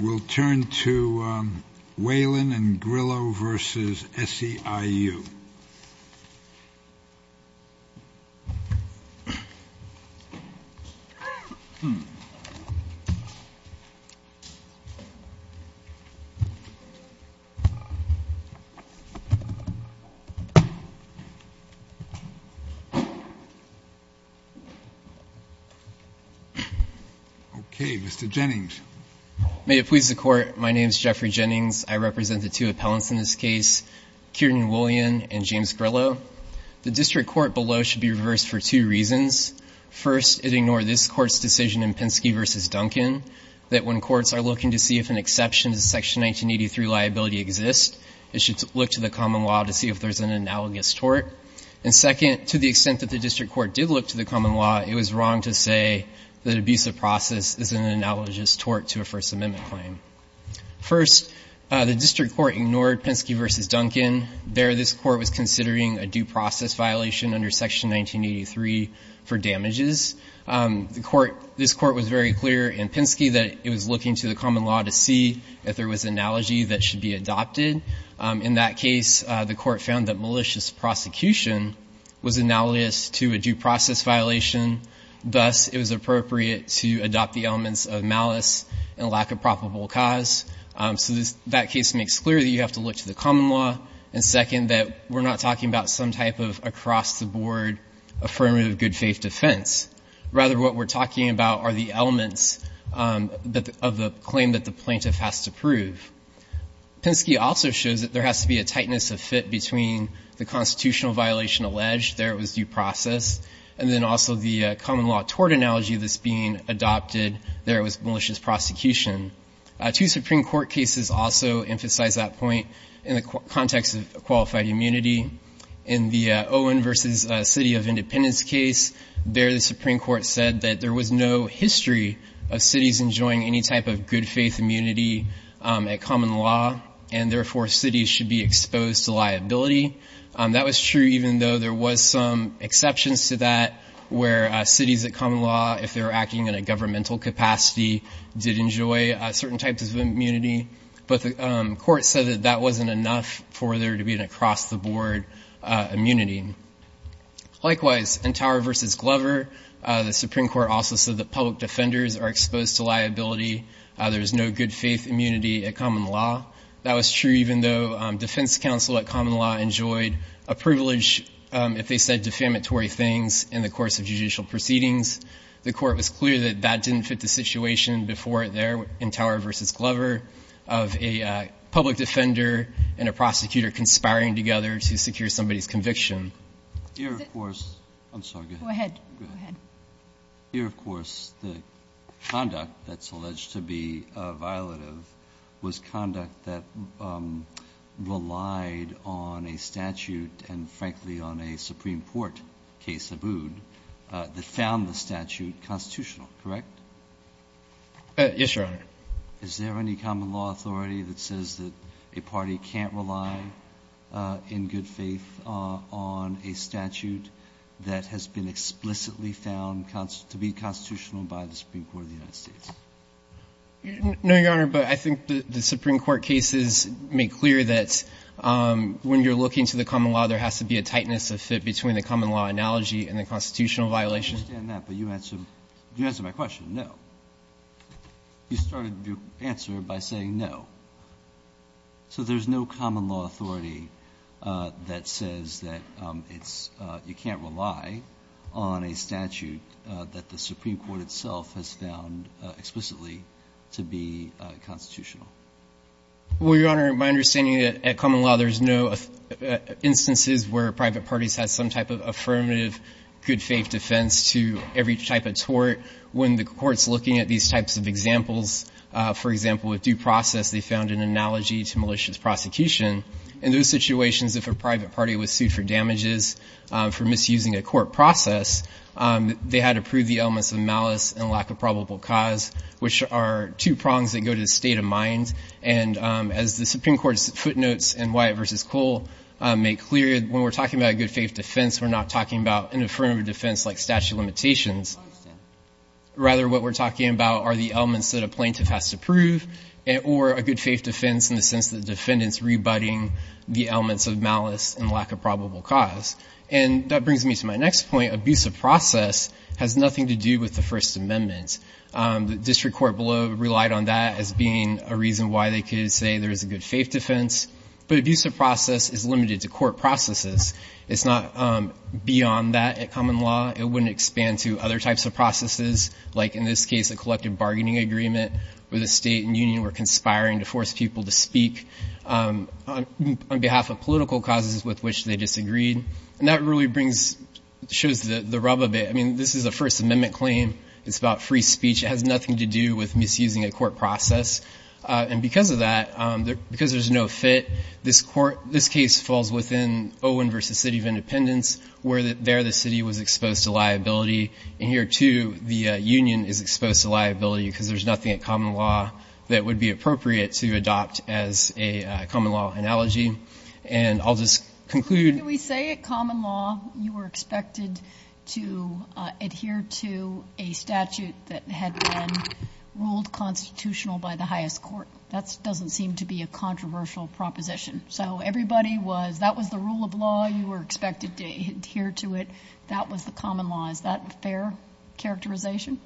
We'll turn to Whelan and Grillo v. SEIU Mr. Jennings May it please the Court, my name is Jeffrey Jennings. I represent the two appellants in this case, Kiernan Whelan and James Grillo. The district court below should be reversed for two reasons. First, it ignored this Court's decision in Penske v. Duncan that when courts are looking to see if an exception to Section 1983 liability exists, it should look to the common law to see if there's an analogous tort. And second, to the extent that the district court did look to the common law, it was wrong to say that abusive process is an analogous tort to a First Amendment claim. First, the district court ignored Penske v. Duncan. There this Court was considering a due process violation under Section 1983 for damages. The Court, this Court was very clear in Penske that it was looking to the common law to see if there was analogy that should be adopted. In that case, the Court found that malicious prosecution was analogous to a due process violation. Thus, it was appropriate to adopt the elements of malice and lack of probable cause. So that case makes clear that you have to look to the common law. And second, that we're not talking about some type of across-the-board affirmative good faith defense. Rather, what we're talking about are the elements of the claim that the plaintiff has to prove. Penske also shows that there has to be a tightness of fit between the constitutional violation alleged, there it was due process, and then also the common law tort analogy that's being adopted, there it was malicious prosecution. Two Supreme Court cases also emphasize that point in the context of qualified immunity. In the Owen v. City of Independence case, there the Supreme Court said that there was no history of cities enjoying any type of good faith immunity at common law, and therefore cities should be exposed to liability. That was true even though there was some exceptions to that where cities at common law, if they were acting in a governmental capacity, did enjoy certain types of immunity. But the court said that that wasn't enough for there to be an across-the-board immunity. Likewise, in Tower v. Glover, the Supreme Court also said that public defenders are exposed to liability. There's no good faith immunity at common law. That was true even though defense counsel at common law enjoyed a privilege if they said defamatory things in the course of judicial proceedings. The court was clear that that didn't fit the situation before there in Tower v. Glover of a public defender and a prosecutor conspiring together to secure somebody's conviction. Here, of course, the conduct that's alleged to be violative was conduct that relied on a statute and, frankly, on a Supreme Court case, Abood, that found the statute constitutional, correct? Yes, Your Honor. Is there any common law authority that says that a party can't rely in good faith on a statute that has been explicitly found to be constitutional by the Supreme Court of the United States? No, Your Honor, but I think the Supreme Court cases make clear that when you're looking to the common law, there has to be a tightness of fit between the common law analogy and the constitutional violation. I understand that, but you answered my question, no. You started your answer by saying no. So there's no common law authority that says that it's you can't rely on a statute that the Supreme Court itself has found explicitly to be constitutional. Well, Your Honor, my understanding at common law, there's no instances where private parties have some type of affirmative good faith defense to every type of tort. When the Court's looking at these types of examples, for example, with due process, they found an analogy to malicious prosecution. In those situations, if a private party was sued for damages for misusing a court process, they had to prove the elements of malice and lack of probable cause, which are two prongs that go to the state of mind. And as the Supreme Court's footnotes in Wyatt v. Cole make clear, when we're talking about a good faith defense, we're not talking about an affirmative defense like statute limitations. I understand. Rather, what we're talking about are the elements that a plaintiff has to prove or a good faith defense in the sense that the defendant's rebutting the elements of malice and lack of probable cause. And that brings me to my next point. Abusive process has nothing to do with the First Amendment. The district court below relied on that as being a reason why they could say there's a good faith defense. But abusive process is limited to court processes. It's not beyond that at common law. It wouldn't expand to other types of processes, like in this case, a collective bargaining agreement where the state and union were conspiring to force people to speak on behalf of political causes with which they disagreed. And that really shows the rub of it. I mean, this is a First Amendment claim. It's about free speech. It has nothing to do with misusing a court process. And because of that, because there's no fit, this case falls within Owen v. City of Independence, where there the city was exposed to liability. And here, too, the union is exposed to liability because there's nothing at common law that would be appropriate to adopt as a common law analogy. And I'll just conclude. We say at common law, you were expected to adhere to a statute that had been ruled constitutional by the highest court. That doesn't seem to be a controversial proposition. So everybody was, that was the rule of law. You were expected to adhere to it. That was the common law. Is that a fair characterization?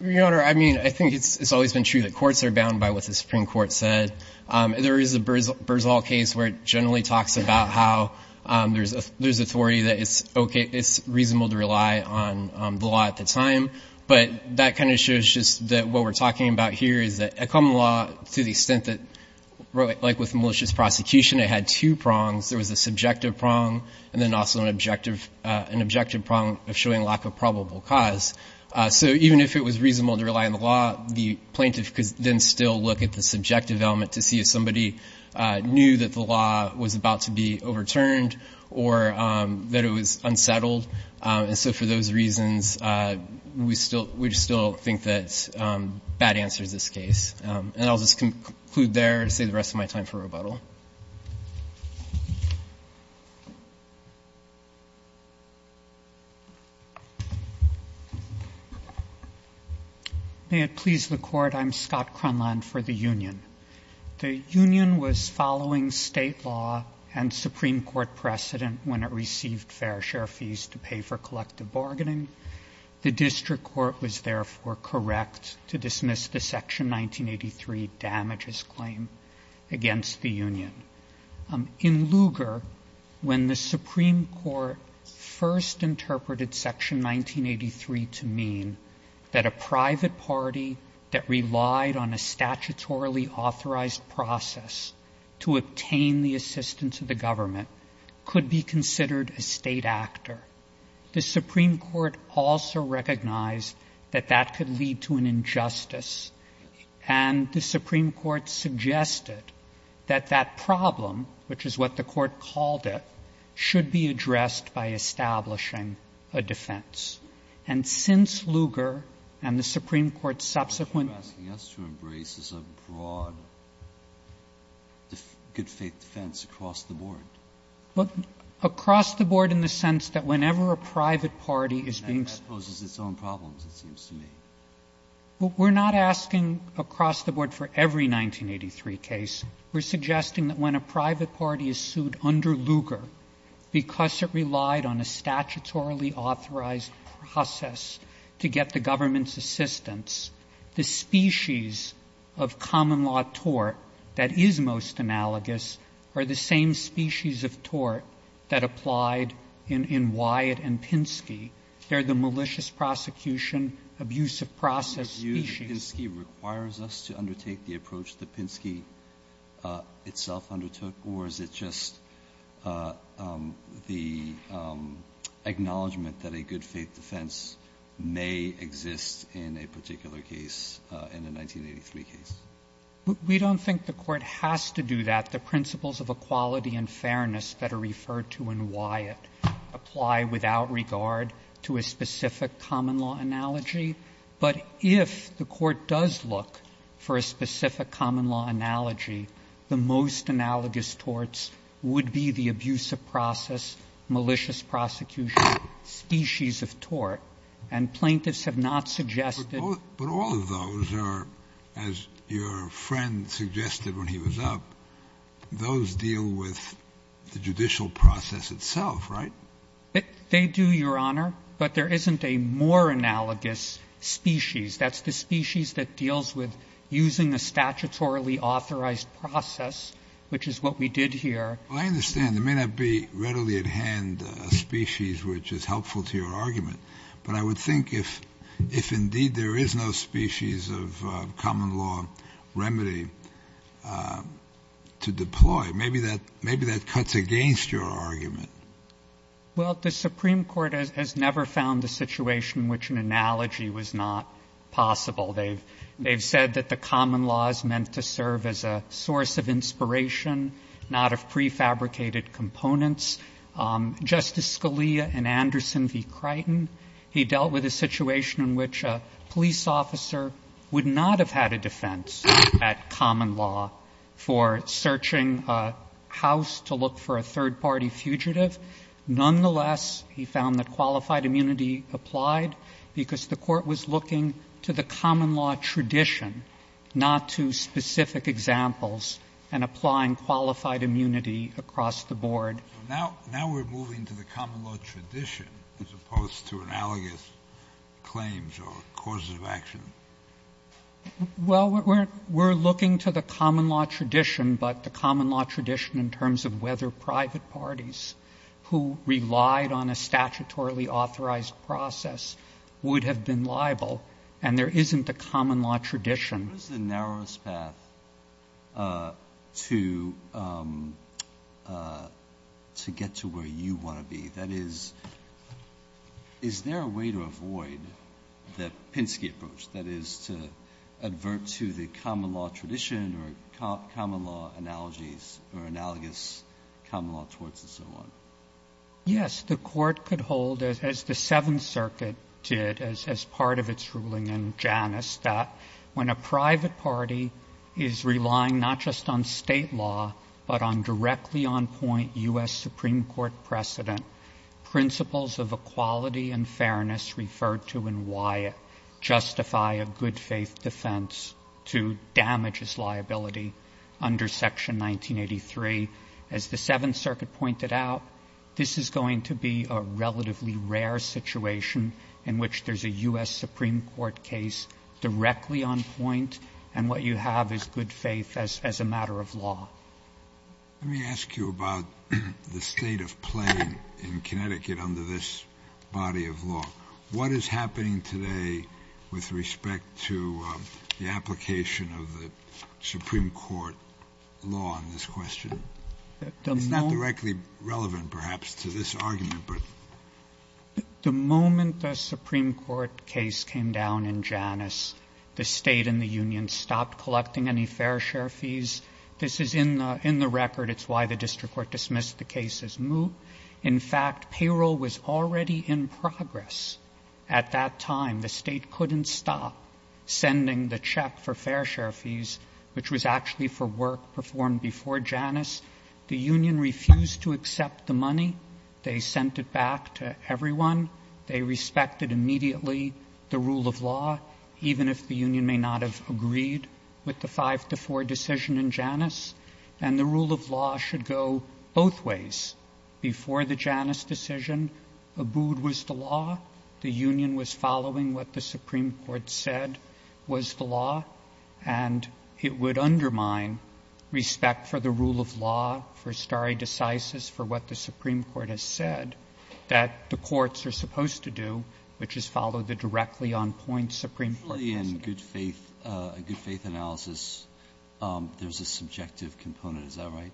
Your Honor, I mean, I think it's always been true that courts are bound by what the Supreme Court said. There is a Berzall case where it generally talks about how there's authority that it's okay, it's reasonable to rely on the law at the time. But that kind of shows just that what we're talking about here is that a common law, to the extent that, like with malicious prosecution, it had two prongs. There was a subjective prong, and then also an objective prong of showing lack of probable cause. So even if it was reasonable to rely on the law, the plaintiff could then still look at the subjective element to see if somebody knew that the law was about to be overturned or that it was unsettled. And so for those reasons, we still think that bad answer is this case. And I'll just conclude there and save the rest of my time for rebuttal. May it please the court, I'm Scott Cronland for the union. The union was following state law and Supreme Court precedent when it received fair share fees to pay for collective bargaining. The district court was therefore correct to dismiss the section 1983 damages claim against the union. In Lugar, when the Supreme Court first interpreted section 1983 to mean that a private party that relied on a statutorily authorized process to obtain the assistance of the government could be considered a state actor. The Supreme Court also recognized that that could lead to an injustice. And the Supreme Court suggested that that problem, which is what the court called it, should be addressed by establishing a defense. And since Lugar and the Supreme Court's subsequent- Breyer, you're asking us to embrace as a broad good faith defense across the board. But across the board in the sense that whenever a private party is being- And that poses its own problems, it seems to me. We're not asking across the board for every 1983 case. We're suggesting that when a private party is sued under Lugar, because it relied on a statutorily authorized process to get the government's assistance, the species of common law tort that is most analogous are the same species of tort that applied in Wyatt and Pinsky. They're the malicious prosecution, abusive process species. The Pinsky requires us to undertake the approach that Pinsky itself undertook, or is it just the acknowledgment that a good faith defense may exist in a particular case, in a 1983 case? We don't think the court has to do that. The principles of equality and fairness that are referred to in Wyatt apply without regard to a specific common law analogy. But if the court does look for a specific common law analogy, the most analogous torts would be the abusive process, malicious prosecution species of tort. And plaintiffs have not suggested- But all of those are, as your friend suggested when he was up, those deal with the judicial process itself, right? They do, your honor, but there isn't a more analogous species. That's the species that deals with using a statutorily authorized process, which is what we did here. Well, I understand. There may not be readily at hand a species which is helpful to your argument. But I would think if indeed there is no species of common law remedy to deploy, maybe that cuts against your argument. Well, the Supreme Court has never found a situation which an analogy was not possible. They've said that the common law is meant to serve as a source of inspiration, not of prefabricated components. Justice Scalia and Anderson v. Crichton, he dealt with a situation in which a police officer would not have had a defense at common law for searching a house to look for a third-party fugitive. Nonetheless, he found that qualified immunity applied because the court was looking to the common law tradition, not to specific examples, and applying qualified immunity across the board. Now we're moving to the common law tradition, as opposed to analogous claims or causes of action. Well, we're looking to the common law tradition, but the common law tradition in terms of whether private parties who relied on a statutorily authorized process would have been liable, and there isn't a common law tradition. What is the narrowest path to get to where you want to be? That is, is there a way to avoid the Pinsky approach, that is to advert to the common law tradition or common law analogies or analogous common law torts and so on? Yes. The Court could hold, as the Seventh Circuit did as part of its ruling in Janus, that when a private party is relying not just on State law, but on directly on point U.S. Supreme Court precedent, principles of equality and fairness referred to in Wyatt justify a good faith defense to damage its liability under Section 1983. As the Seventh Circuit pointed out, this is going to be a relatively rare situation in which there's a U.S. Supreme Court case directly on point, and what you have is good faith as a matter of law. Let me ask you about the state of play in Connecticut under this body of law. What is happening today with respect to the application of the Supreme Court law on this question? It's not directly relevant, perhaps, to this argument, but... The moment the Supreme Court case came down in Janus, the State and the Union stopped collecting any fair share fees. This is in the record. It's why the District Court dismissed the case as moot. In fact, payroll was already in progress at that time. The State couldn't stop sending the check for fair share fees, which was actually for work performed before Janus. The Union refused to accept the money. They sent it back to everyone. They respected immediately the rule of law, even if the Union may not have agreed with the 5-4 decision in Janus, and the rule of law should go both ways. Before the Janus decision, Abood was the law. The Union was following what the Supreme Court said was the law, and it would undermine respect for the rule of law, for stare decisis, for what the Supreme Court has said that the courts are supposed to do, which is follow the directly on point Supreme Court precedent. In the good faith analysis, there's a subjective component. Is that right?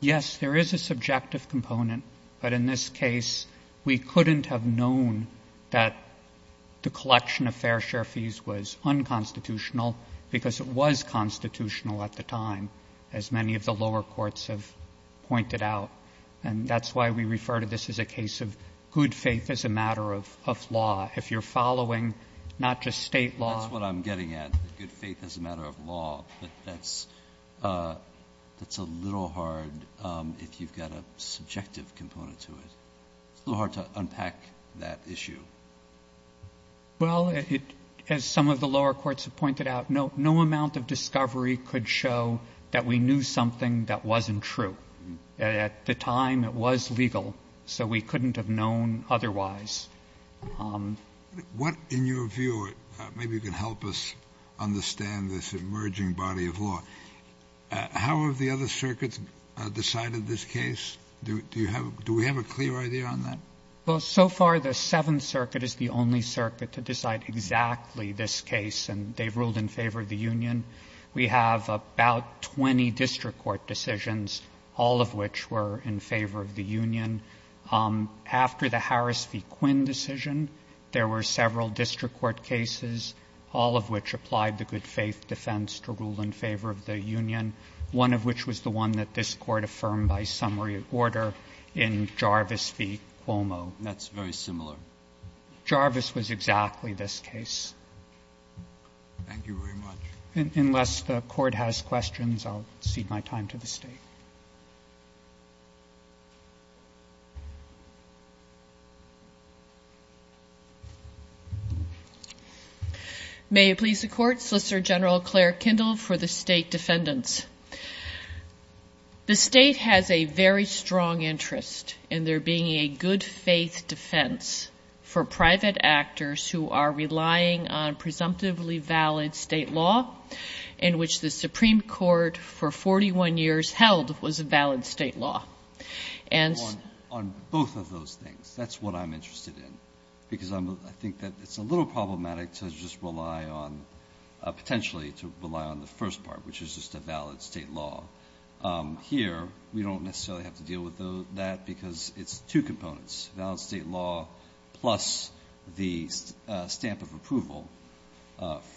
Yes, there is a subjective component, but in this case, we couldn't have known that the collection of fair share fees was unconstitutional because it was constitutional at the time, as many of the lower courts have pointed out. And that's why we refer to this as a case of good faith as a matter of law. If you're following not just state law. That's what I'm getting at, good faith as a matter of law. But that's a little hard if you've got a subjective component to it. It's a little hard to unpack that issue. Well, as some of the lower courts have pointed out, no amount of discovery could show that we knew something that wasn't true. At the time, it was legal, so we couldn't have known otherwise. What, in your view, maybe you can help us understand this emerging body of law. How have the other circuits decided this case? Do we have a clear idea on that? Well, so far, the Seventh Circuit is the only circuit to decide exactly this case, and they've ruled in favor of the union. We have about 20 district court decisions, all of which were in favor of the union. After the Harris v. Quinn decision, there were several district court cases, all of which applied the good faith defense to rule in favor of the union. One of which was the one that this court affirmed by summary order in Jarvis v. Cuomo. That's very similar. Jarvis was exactly this case. Thank you very much. Unless the court has questions, I'll cede my time to the state. May it please the court. Solicitor General Claire Kindle for the state defendants. The state has a very strong interest in there being a good faith defense for private actors who are relying on presumptively valid state law, in which the Supreme Court for 41 years held was a valid state law. And- On both of those things, that's what I'm interested in. Because I think that it's a little problematic to just rely on, potentially to rely on the first part, which is just a valid state law. Here, we don't necessarily have to deal with that because it's two components. Valid state law plus the stamp of approval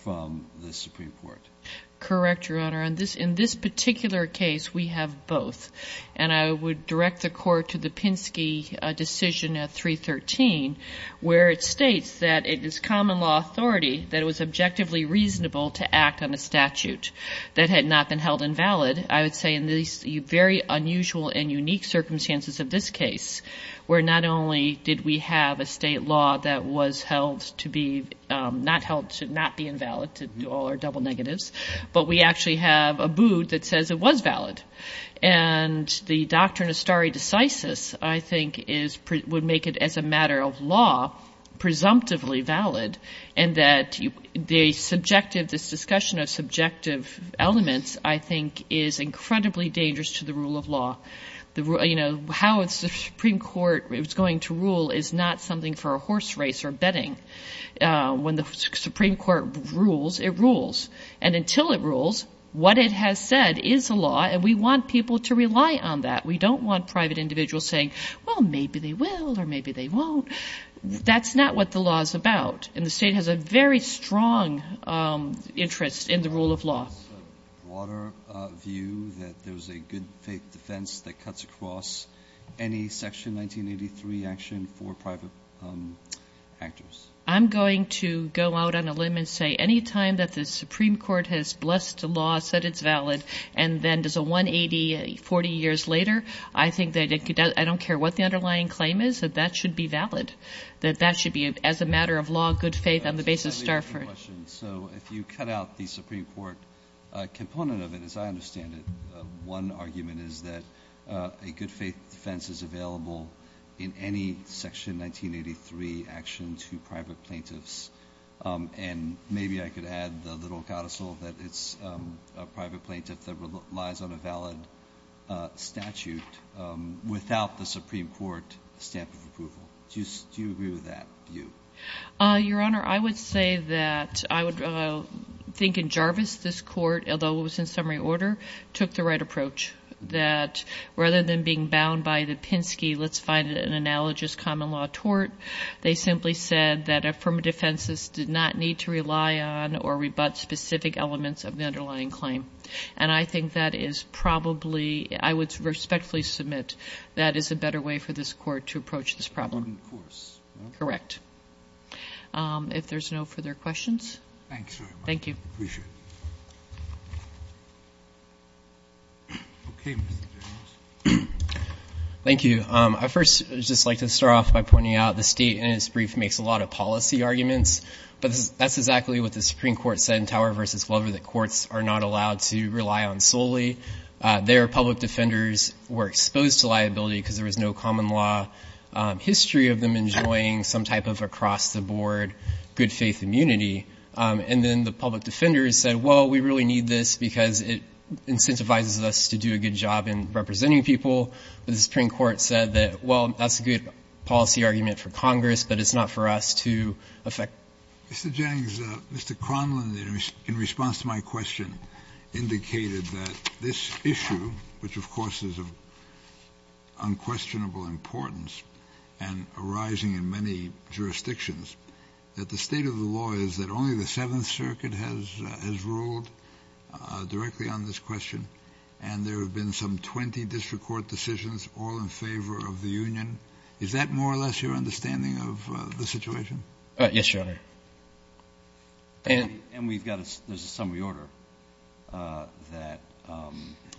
from the Supreme Court. Correct, Your Honor. In this particular case, we have both. And I would direct the court to the Pinsky decision at 313, where it states that it is common law authority that it was objectively reasonable to act on a statute that had not been held invalid. I would say in these very unusual and unique circumstances of this case, where not only did we have a state law that was held to be, not held to not be invalid to all our double negatives. But we actually have a boot that says it was valid. And the doctrine of stare decisis, I think, would make it as a matter of law, presumptively valid. And that the subjective, this discussion of subjective elements, I think, is incredibly dangerous to the rule of law. How the Supreme Court is going to rule is not something for a horse race or betting. When the Supreme Court rules, it rules. And until it rules, what it has said is a law, and we want people to rely on that. We don't want private individuals saying, well, maybe they will or maybe they won't. That's not what the law is about. And the state has a very strong interest in the rule of law. Water view that there's a good faith defense that cuts across any section 1983 action for private actors. I'm going to go out on a limb and say, any time that the Supreme Court has blessed a law, said it's valid, and then does a 180, 40 years later, I think that I don't care what the underlying claim is, that that should be valid, that that should be, as a matter of law, good faith on the basis of Starford. So if you cut out the Supreme Court component of it, as I understand it, one argument is that a good faith defense is available in any section 1983 action to private plaintiffs. And maybe I could add the little codicil that it's a private plaintiff that relies on a valid statute without the Supreme Court stamp of approval. Do you agree with that view? Your Honor, I would say that I would think in Jarvis this court, although it was in summary order, took the right approach. That rather than being bound by the Penske, let's find an analogous common law tort. They simply said that affirmative defenses did not need to rely on or rebut specific elements of the underlying claim. And I think that is probably, I would respectfully submit, that is a better way for this court to approach this problem. On course. Correct. If there's no further questions. Thank you. Thank you. Appreciate it. Okay, Mr. Jarvis. Thank you. I first would just like to start off by pointing out the state in its brief makes a lot of policy arguments, but that's exactly what the Supreme Court said in Tower versus Glover that courts are not allowed to rely on solely. Their public defenders were exposed to liability because there was no common law history of them enjoying some type of across the board good faith immunity. And then the public defenders said, well, we really need this because it was the Supreme Court said that, well, that's a good policy argument for Congress, but it's not for us to affect. Mr. Jennings, Mr. Conlon, in response to my question, indicated that this issue, which, of course, is of unquestionable importance and arising in many jurisdictions, that the state of the law is that only the Seventh Circuit has ruled directly on this question. And there have been some 20 district court decisions all in favor of the union. Is that more or less your understanding of the situation? Yes, Your Honor. And we've got a summary order that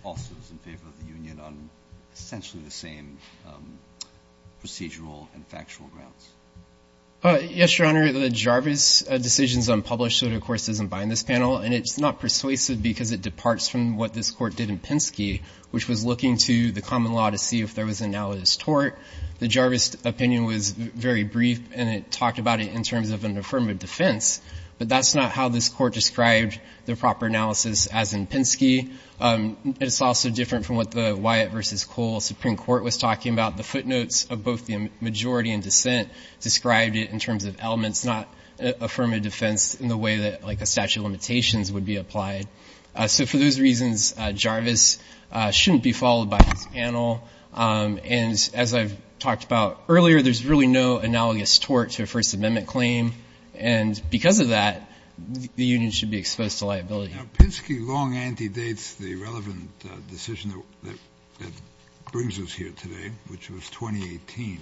also is in favor of the union on essentially the same procedural and factual grounds. Yes, Your Honor, the Jarvis decision is unpublished, so it of course doesn't bind in this panel, and it's not persuasive because it departs from what this court did in Penske, which was looking to the common law to see if there was analogous tort. The Jarvis opinion was very brief, and it talked about it in terms of an affirmative defense, but that's not how this court described the proper analysis as in Penske. It's also different from what the Wyatt versus Cole Supreme Court was talking about. The footnotes of both the majority and dissent described it in terms of elements not affirmative defense in the way that, like a statute of limitations would be applied. So for those reasons, Jarvis shouldn't be followed by this panel. And as I've talked about earlier, there's really no analogous tort to a First Amendment claim, and because of that, the union should be exposed to liability. Now Penske long anti-dates the relevant decision that brings us here today, which was 2018,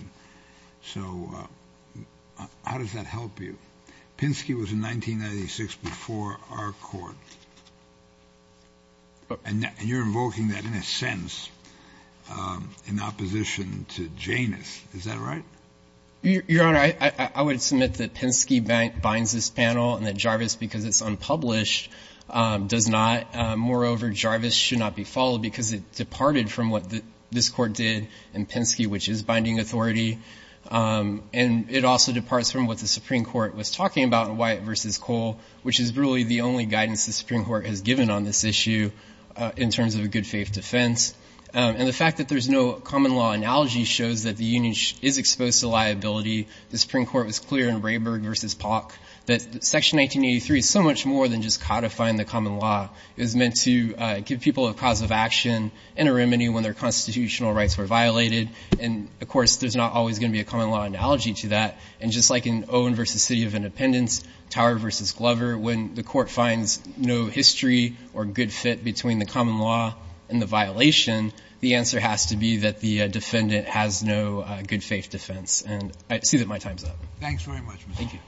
so how does that help you? Penske was in 1996 before our court. And you're invoking that in a sense in opposition to Janus, is that right? Your Honor, I would submit that Penske binds this panel and that Jarvis, because it's unpublished, does not. Moreover, Jarvis should not be followed because it departed from what this court did in Penske, which is binding authority, and it also departs from what the Supreme Court was talking about in Wyatt v. Cole, which is really the only guidance the Supreme Court has given on this issue in terms of a good faith defense. And the fact that there's no common law analogy shows that the union is exposed to liability. The Supreme Court was clear in Rayburg v. Polk that Section 1983 is so much more than just codifying the common law. It was meant to give people a cause of action and a remedy when their constitutional rights were violated. And of course, there's not always going to be a common law analogy to that. And just like in Owen v. City of Independence, Tower v. Glover, when the court finds no history or good fit between the common law and the violation, the answer has to be that the defendant has no good faith defense. And I see that my time's up. Thanks very much. Thank you.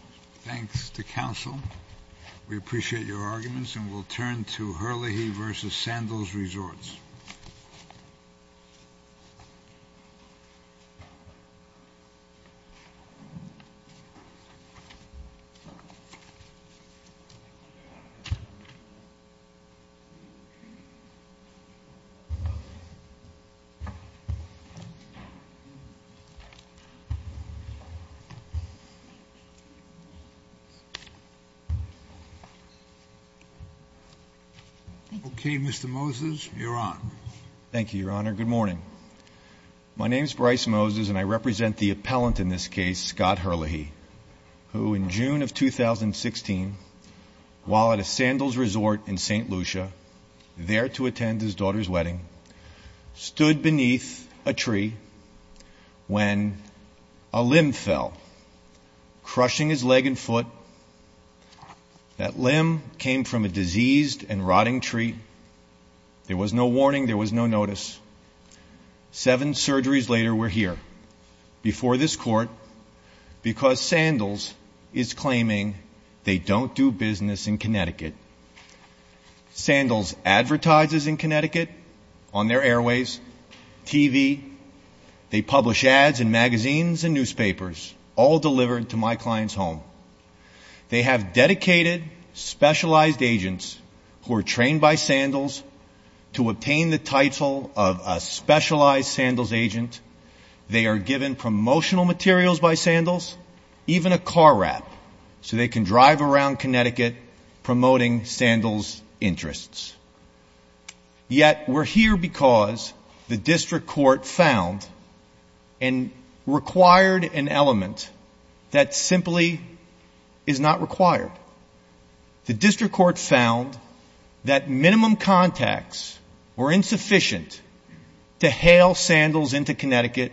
Thanks to counsel. We appreciate your arguments, and we'll turn to Hurley versus Sandals Resorts. Okay, Mr. Moses, you're on. Thank you, Your Honor. Good morning. My name's Bryce Moses, and I represent the appellant in this case, Scott Hurley, who in June of 2016, while at a Sandals Resort in St. Lucia, there to attend his daughter's wedding, stood beneath a tree when a limb fell, crushing his leg and foot. That limb came from a diseased and rotting tree. There was no warning. There was no notice. Seven surgeries later, we're here, before this court, because Sandals is claiming they don't do business in Connecticut. Sandals advertises in Connecticut on their airways, TV. They publish ads in magazines and newspapers, all delivered to my client's home. They have dedicated, specialized agents who are trained by Sandals to obtain the title of a specialized Sandals agent. They are given promotional materials by Sandals, even a car wrap, so they can drive around Connecticut promoting Sandals' interests. Yet, we're here because the district court found and required an element that simply is not required. The district court found that minimum contacts were insufficient to hail Sandals into Connecticut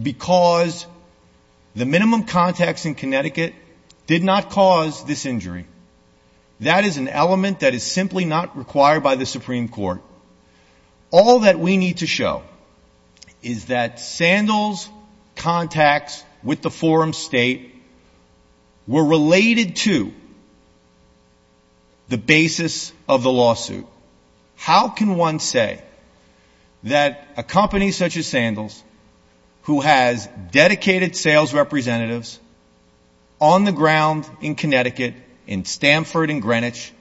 because the minimum contacts in Connecticut did not cause this injury. That is an element that is simply not required by the Supreme Court. All that we need to show is that Sandals' contacts with the forum state were related to the basis of the lawsuit. How can one say that a company such as Sandals, who has dedicated sales representatives on the ground in Connecticut, in Stamford and Greenwich,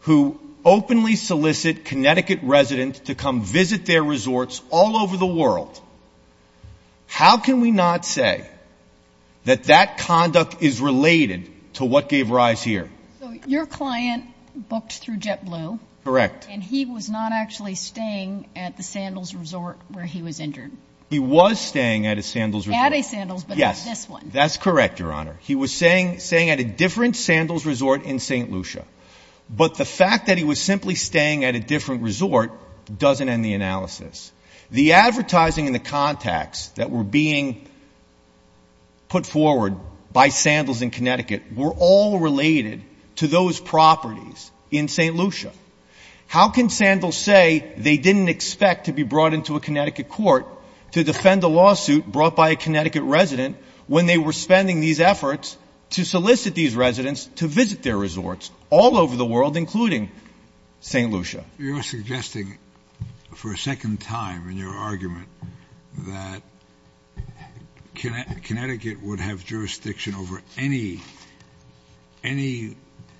who openly solicit Connecticut residents to come visit their resorts all over the world. How can we not say that that conduct is related to what gave rise here? So your client booked through JetBlue. Correct. And he was not actually staying at the Sandals resort where he was injured. He was staying at a Sandals resort. At a Sandals, but not this one. Yes, that's correct, Your Honor. He was staying at a different Sandals resort in St. Lucia. doesn't end the analysis. The advertising and the contacts that were being put forward by Sandals in Connecticut were all related to those properties in St. Lucia. How can Sandals say they didn't expect to be brought into a Connecticut court to defend a lawsuit brought by a Connecticut resident when they were spending these efforts to solicit these residents to visit their resorts all over the world, including St. Lucia? You're suggesting for a second time in your argument that Connecticut would have jurisdiction over any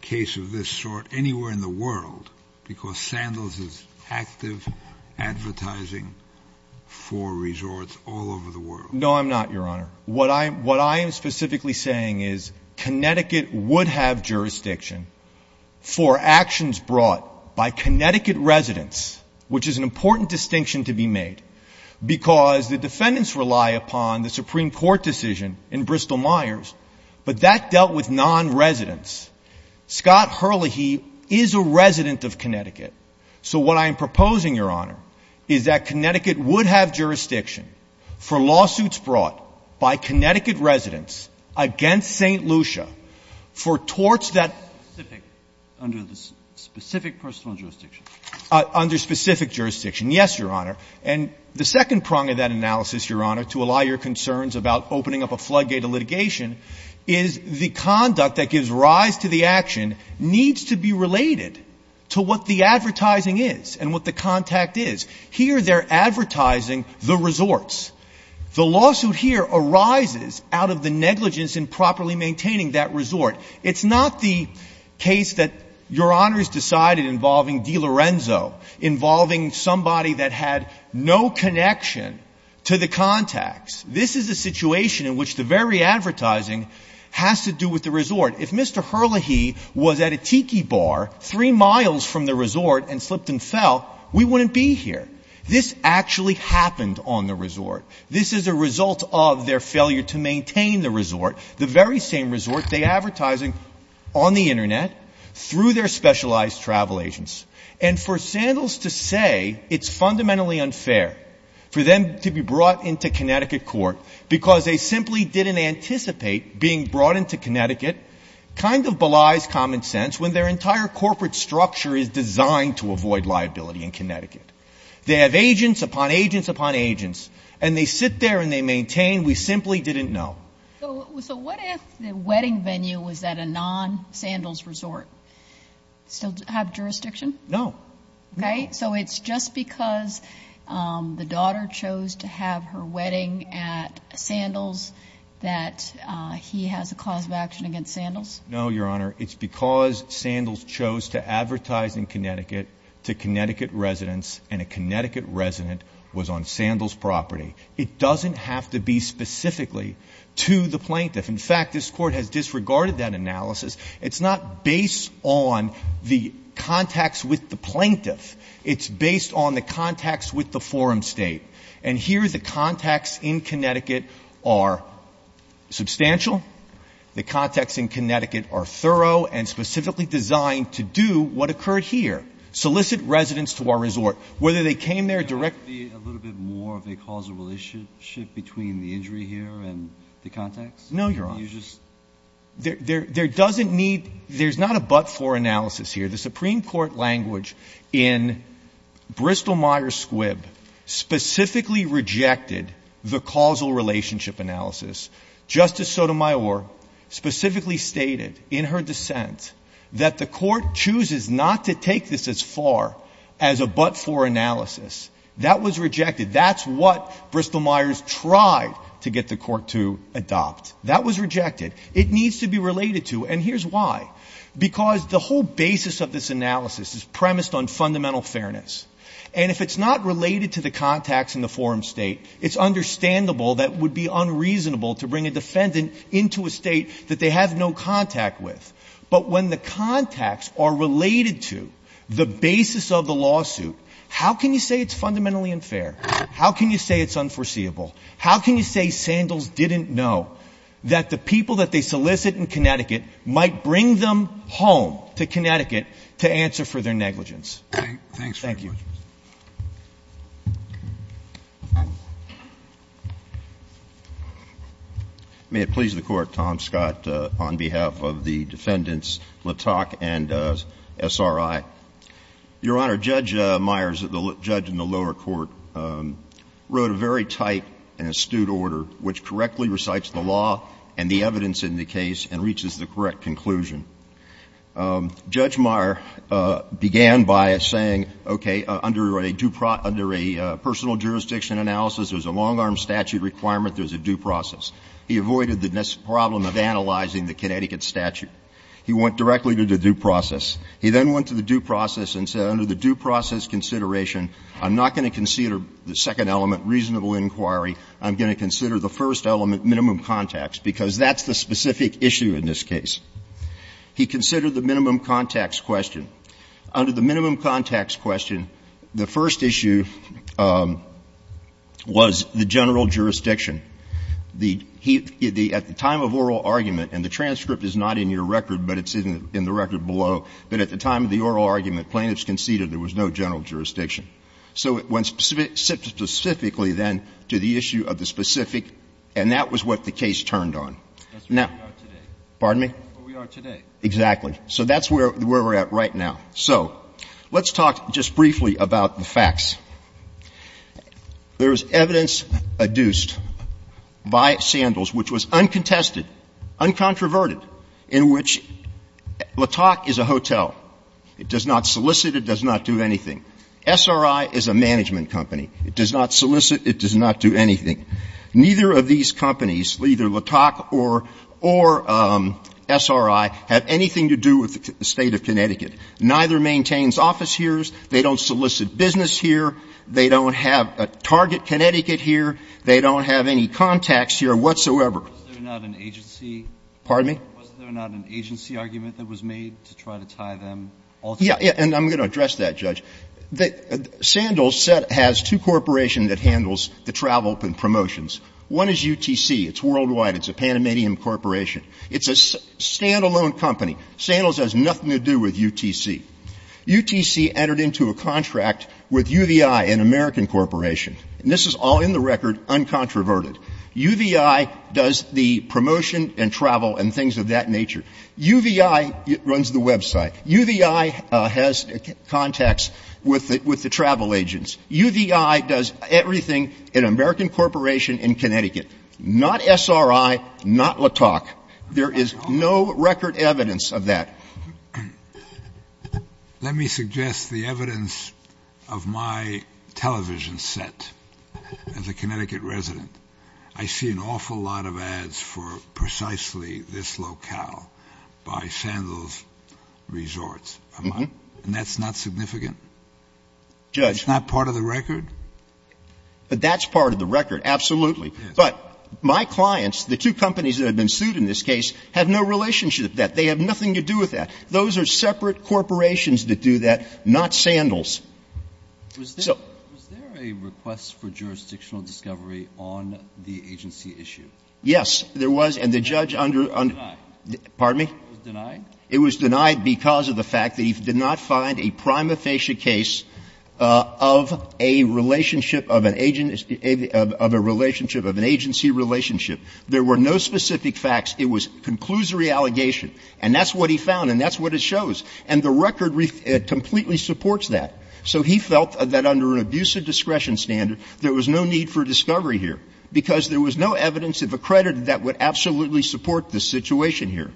case of this sort anywhere in the world because Sandals is active advertising for resorts all over the world. No, I'm not, Your Honor. What I am specifically saying is Connecticut would have jurisdiction for actions brought by Connecticut residents, which is an important distinction to be made because the defendants rely upon the Supreme Court decision in Bristol-Myers, but that dealt with non-residents. Scott Hurley, he is a resident of Connecticut. So what I am proposing, Your Honor, is that Connecticut would have jurisdiction for lawsuits brought by Connecticut residents against St. Lucia for torts that under the specific personal jurisdiction, under specific jurisdiction. Yes, Your Honor. And the second prong of that analysis, Your Honor, to allow your concerns about opening up a floodgate of litigation is the conduct that gives rise to the action needs to be related to what the advertising is and what the contact is. Here they're advertising the resorts. The lawsuit here arises out of the negligence in properly maintaining that resort. It's not the case that Your Honor has decided involving DiLorenzo, involving somebody that had no connection to the contacts. This is a situation in which the very advertising has to do with the resort. If Mr. Hurley, he was at a tiki bar three miles from the resort and slipped and fell, we wouldn't be here. This actually happened on the resort. This is a result of their failure to maintain the resort, the very same resort they're advertising on the Internet through their specialized travel agents. And for Sandals to say it's fundamentally unfair for them to be brought into Connecticut court, because they simply didn't anticipate being brought into Connecticut, kind of belies common sense when their entire corporate structure is designed to avoid liability in Connecticut. They have agents upon agents upon agents, and they sit there and they maintain we simply didn't know. So what if the wedding venue was at a non-Sandals resort? Still have jurisdiction? No. Okay, so it's just because the daughter chose to have her wedding at Sandals that he has a cause of action against Sandals? No, Your Honor. It's because Sandals chose to advertise in Connecticut to Connecticut residents, and a Connecticut resident was on Sandals property. It doesn't have to be specifically to the plaintiff. In fact, this court has disregarded that analysis. It's not based on the contacts with the plaintiff. It's based on the contacts with the forum state. And here the contacts in Connecticut are substantial. The contacts in Connecticut are thorough and specifically designed to do what occurred here, solicit residents to our resort. Whether they came there directly. A little bit more of a causal relationship between the injury here and the contacts? No, Your Honor. You just. There doesn't need, there's not a but for analysis here. The Supreme Court language in Bristol-Myers Squibb specifically rejected the causal relationship analysis. Justice Sotomayor specifically stated in her dissent that the court chooses not to take this as far as a but for analysis. That was rejected. That's what Bristol-Myers tried to get the court to adopt. That was rejected. It needs to be related to, and here's why. Because the whole basis of this analysis is premised on fundamental fairness. And if it's not related to the contacts in the forum state, it's understandable that it would be unreasonable to bring a defendant into a state that they have no contact with. But when the contacts are related to the basis of the lawsuit, how can you say it's fundamentally unfair? How can you say it's unforeseeable? How can you say Sandals didn't know that the people that they solicit in Connecticut might bring them home to Connecticut to answer for their negligence? Thank you. May it please the court, Tom Scott on behalf of the defendants, Latak and SRI. Your Honor, Judge Myers, the judge in the lower court, wrote a very tight and astute order which correctly recites the law and the evidence in the case and reaches the correct conclusion. Judge Myers began by saying, okay, under a personal jurisdiction analysis, there's a long-arm statute requirement, there's a due process. He avoided the problem of analyzing the Connecticut statute. He went directly to the due process. He then went to the due process and said, under the due process consideration, I'm not going to consider the second element, reasonable inquiry. I'm going to consider the first element, minimum contacts, because that's the specific issue in this case. He considered the minimum contacts question. Under the minimum contacts question, the first issue was the general jurisdiction. At the time of oral argument, and the transcript is not in your record, but it's in the record below, but at the time of the oral argument, plaintiffs conceded there was no general jurisdiction. So it went specifically, then, to the issue of the specific, and that was what the case turned on. Now — That's where we are today. Pardon me? Where we are today. Exactly. So that's where we're at right now. So let's talk just briefly about the facts. There is evidence adduced by Sandals, which was uncontested, uncontroverted, in which LaTocq is a hotel, it does not solicit, it does not do anything. SRI is a management company. It does not solicit, it does not do anything. Neither of these companies, either LaTocq or SRI, have anything to do with the State of Connecticut. Neither maintains office here. They don't solicit business here. They don't have a target Connecticut here. They don't have any contacts here whatsoever. Was there not an agency? Pardon me? Was there not an agency argument that was made to try to tie them all together? Yeah. And I'm going to address that, Judge. Sandals has two corporations that handle the travel and promotions. One is UTC. It's worldwide. It's a Panamanian corporation. It's a standalone company. Sandals has nothing to do with UTC. UTC entered into a contract with UVI, an American corporation. And this is all in the record uncontroverted. UVI does the promotion and travel and things of that nature. UVI runs the website. UVI has contacts with the travel agents. UVI does everything in an American corporation in Connecticut. Not SRI, not LaTocq. There is no record evidence of that. Let me suggest the evidence of my television set as a Connecticut resident. I see an awful lot of ads for precisely this locale by Sandals Resorts. And that's not significant? Judge. That's not part of the record? But that's part of the record, absolutely. But my clients, the two companies that have been sued in this case, have no relationship with that. They have nothing to do with that. Those are separate corporations that do that, not Sandals. So. Alito. Was there a request for jurisdictional discovery on the agency issue? Yes, there was. And the judge under under. It was denied? Pardon me? It was denied? It was denied because of the fact that he did not find a prima facie case of a relationship of an agent of a relationship of an agency relationship. There were no specific facts. It was conclusory allegation, and that's what he found, and that's what it shows. And the record completely supports that. So he felt that under an abuse of discretion standard, there was no need for discovery here, because there was no evidence of accredited that would absolutely support the situation here.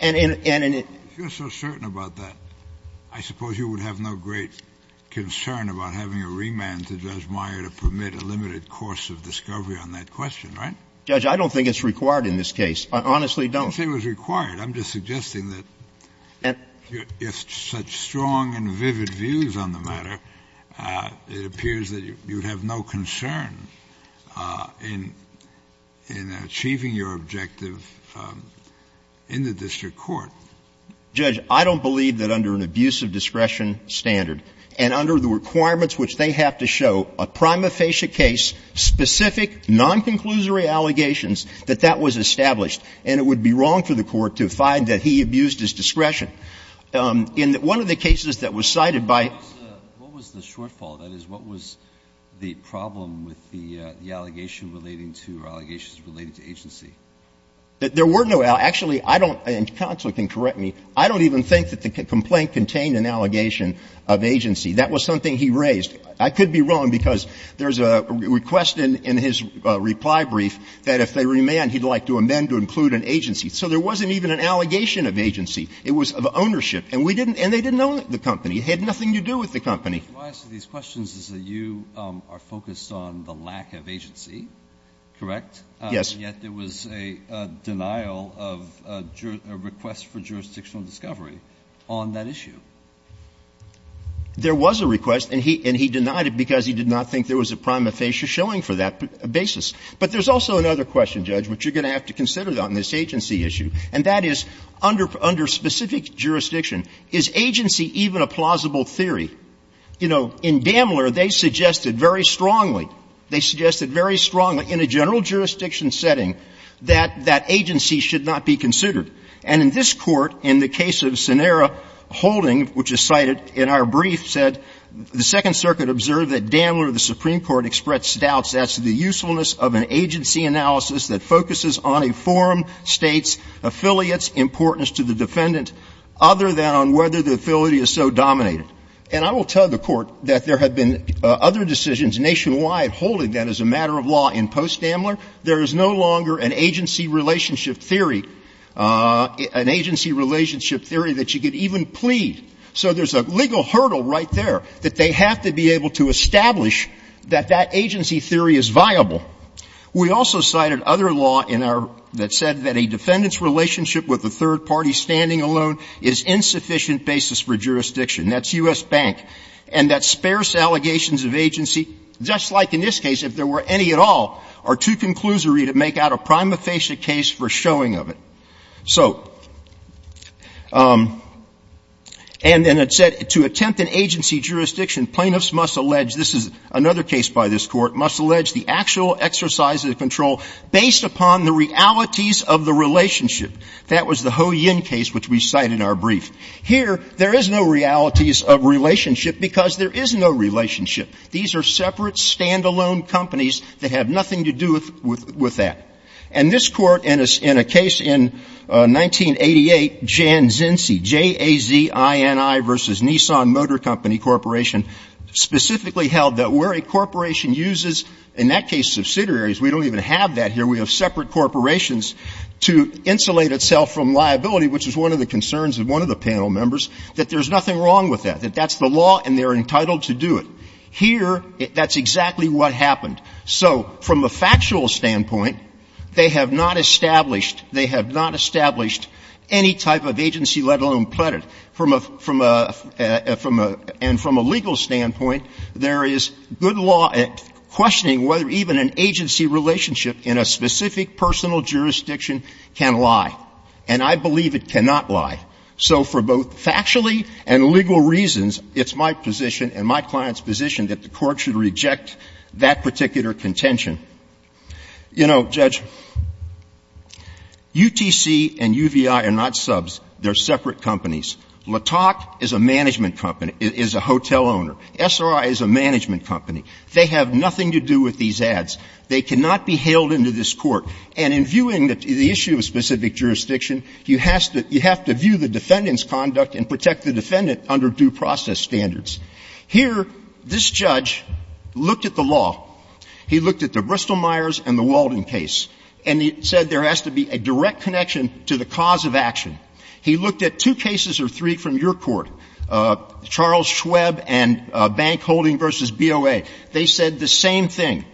And it. If you're so certain about that, I suppose you would have no great concern about having a remand to Judge Meyer to permit a limited course of discovery on that question, right? Judge, I don't think it's required in this case. I honestly don't. I don't think it was required. I'm just suggesting that if such strong and vivid views on the matter, it appears that you have no concern in achieving your objective in the district court. Judge, I don't believe that under an abuse of discretion standard and under the requirements which they have to show, a prima facie case, specific, non-conclusory allegations, that that was established. And it would be wrong for the Court to find that he abused his discretion. In one of the cases that was cited by. Alito, what was the shortfall? That is, what was the problem with the allegation relating to or allegations relating to agency? There were no allegations. Actually, I don't, and counsel can correct me, I don't even think that the complaint contained an allegation of agency. That was something he raised. I could be wrong because there's a request in his reply brief that if they remand, he'd like to amend to include an agency. So there wasn't even an allegation of agency. It was of ownership. And we didn't, and they didn't own the company. It had nothing to do with the company. Alito, my answer to these questions is that you are focused on the lack of agency, correct? Yes. And yet there was a denial of a request for jurisdictional discovery on that issue. There was a request, and he denied it because he did not think there was a prima facie showing for that basis. But there's also another question, Judge, which you're going to have to consider on this agency issue, and that is, under specific jurisdiction, is agency even a plausible theory? You know, in Bamler, they suggested very strongly, they suggested very strongly in a general jurisdiction setting that that agency should not be considered. And in this Court, in the case of Scenera Holding, which is cited in our brief, said, the Second Circuit observed that Bamler, the Supreme Court, expressed doubts as to the usefulness of an agency analysis that focuses on a forum, States, affiliates, importance to the defendant, other than on whether the affiliate is so dominated. And I will tell the Court that there have been other decisions nationwide holding that as a matter of law in post-Bamler. There is no longer an agency relationship theory, an agency relationship theory that you could even plead. So there's a legal hurdle right there that they have to be able to establish that that agency theory is viable. We also cited other law in our – that said that a defendant's relationship with a third party standing alone is insufficient basis for jurisdiction. That's U.S. Bank. And that sparse allegations of agency, just like in this case, if there were any at all, are too conclusory to make out a prima facie case for showing of it. So – and then it said, to attempt an agency jurisdiction, plaintiffs must allege – this is another case by this Court – must allege the actual exercise of the control based upon the realities of the relationship. That was the Ho Yin case, which we cite in our brief. Here, there is no realities of relationship because there is no relationship. These are separate, stand-alone companies that have nothing to do with that. And this Court, in a case in 1988, Jan Zinzi, J-A-Z-I-N-I v. Nissan Motor Company Corporation, specifically held that where a corporation uses, in that case, subsidiaries – we don't even have that here, we have separate corporations – to insulate itself from liability, which is one of the concerns of one of the panel members, that there's nothing wrong with that, that that's the law and they're entitled to do it. Here, that's exactly what happened. So, from a factual standpoint, they have not established – they have not established any type of agency, let alone pleaded. From a – and from a legal standpoint, there is good law questioning whether even an agency relationship in a specific personal jurisdiction can lie. And I believe it cannot lie. So, for both factually and legal reasons, it's my position and my client's position that the Court should reject that particular contention. You know, Judge, UTC and UVI are not subs. They're separate companies. LaTocq is a management company – is a hotel owner. SRI is a management company. They have nothing to do with these ads. They cannot be hailed into this Court. And in viewing the issue of specific jurisdiction, you have to view the defendant's conduct and protect the defendant under due process standards. Here, this judge looked at the law. He looked at the Bristol-Myers and the Walden case, and he said there has to be a direct connection to the cause of action. He looked at two cases or three from your Court, Charles Schweb and Bank Holding v. BOA. They said the same thing.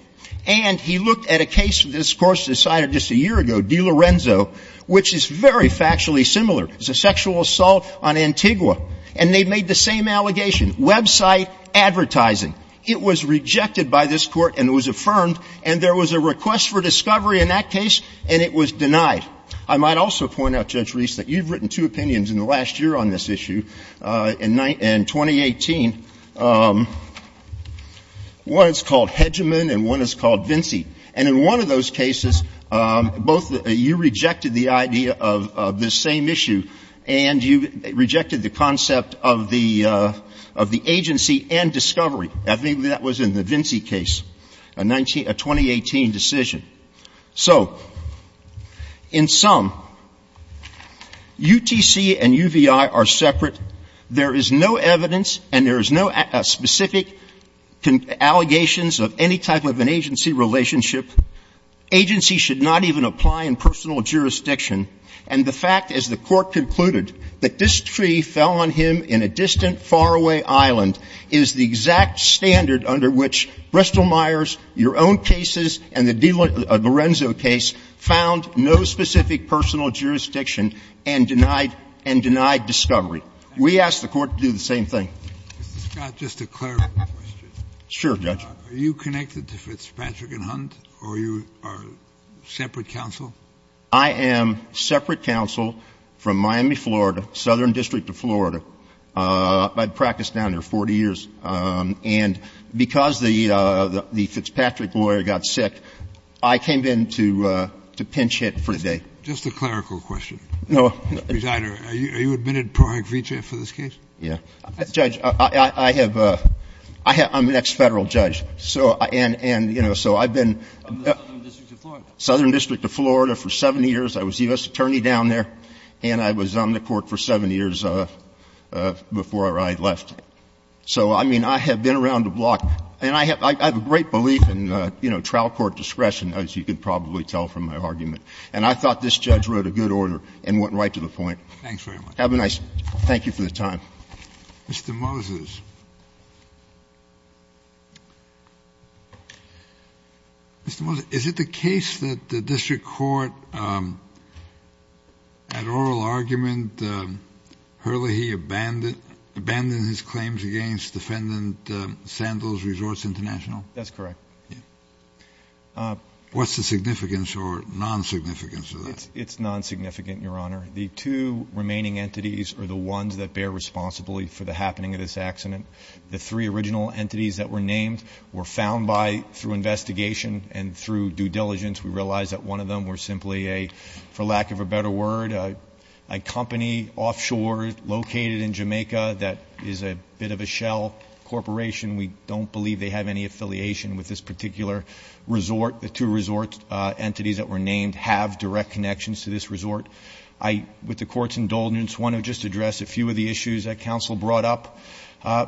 And he looked at a case this Court decided just a year ago, DiLorenzo, which is very factually similar. It's a sexual assault on Antigua. And they made the same allegation, website advertising. It was rejected by this Court and it was affirmed, and there was a request for discovery in that case, and it was denied. I might also point out, Judge Reese, that you've written two opinions in the last year on this issue in 2018, one is called Hedgeman and one is called Vinci. And in one of those cases, both you rejected the idea of this same issue and you rejected the concept of the agency and discovery. I think that was in the Vinci case, a 2018 decision. So in sum, UTC and UVI are separate. There is no evidence and there is no specific allegations of any type of an agency relationship. Agency should not even apply in personal jurisdiction. And the fact, as the Court concluded, that this tree fell on him in a distant, faraway island is the exact standard under which Bristol-Myers, your own cases, and the Lorenzo case found no specific personal jurisdiction and denied discovery. We ask the Court to do the same thing. Kennedy. Mr. Scott, just a clarification question. Sure, Judge. Are you connected to Fitzpatrick and Hunt or you are separate counsel? I am separate counsel from Miami, Florida, Southern District of Florida. I practiced down there 40 years. And because the Fitzpatrick lawyer got sick, I came in to pinch hit for the day. Just a clerical question. No. Mr. Snyder, are you admitted pro act vitae for this case? Yeah. Judge, I have — I'm an ex-Federal judge, so — and, you know, so I've been — In the Southern District of Florida. Southern District of Florida for seven years. I was U.S. attorney down there and I was on the Court for seven years before I left. So, I mean, I have been around the block and I have a great belief in, you know, trial court discretion, as you can probably tell from my argument. And I thought this judge wrote a good order and went right to the point. Thanks very much. Have a nice — thank you for the time. Mr. Moses. Mr. Moses, is it the case that the District Court, at oral argument, Hurley, he abandoned his claims against defendant Sandals Resorts International? That's correct. Yeah. What's the significance or non-significance of that? It's non-significant, Your Honor. The two remaining entities are the ones that bear responsibility for the happening of this accident. The three original entities that were named were found by — through investigation and through due diligence, we realized that one of them were simply a — for lack of a better word, a company offshore located in Jamaica that is a bit of a shell corporation. We don't believe they have any affiliation with this particular resort. The two resort entities that were named have direct connections to this resort. I, with the Court's indulgence, want to just address a few of the issues that counsel brought up.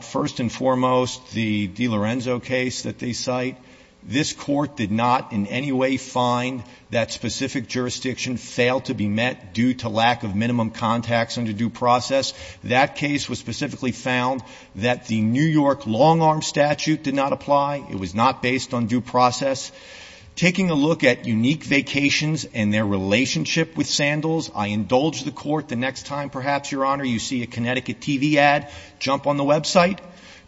First and foremost, the DiLorenzo case that they cite, this Court did not in any way find that specific jurisdiction failed to be met due to lack of minimum contacts under due process. That case was specifically found that the New York long-arm statute did not apply. It was not based on due process. Taking a look at Unique Vacations and their relationship with Sandals, I indulge the Court the next time, perhaps, Your Honor, you see a Connecticut TV ad, jump on the website,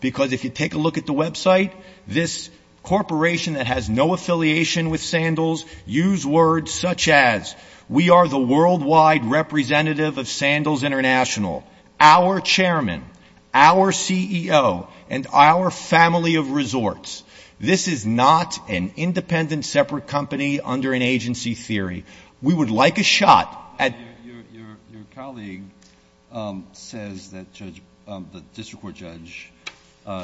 because if you take a look at the website, this corporation that has no affiliation with Sandals use words such as, we are the worldwide representative of Sandals International, our chairman, our CEO, and our family of resorts. This is not an independent, separate company under an agency theory. We would like a shot at — Your colleague says that the district court judge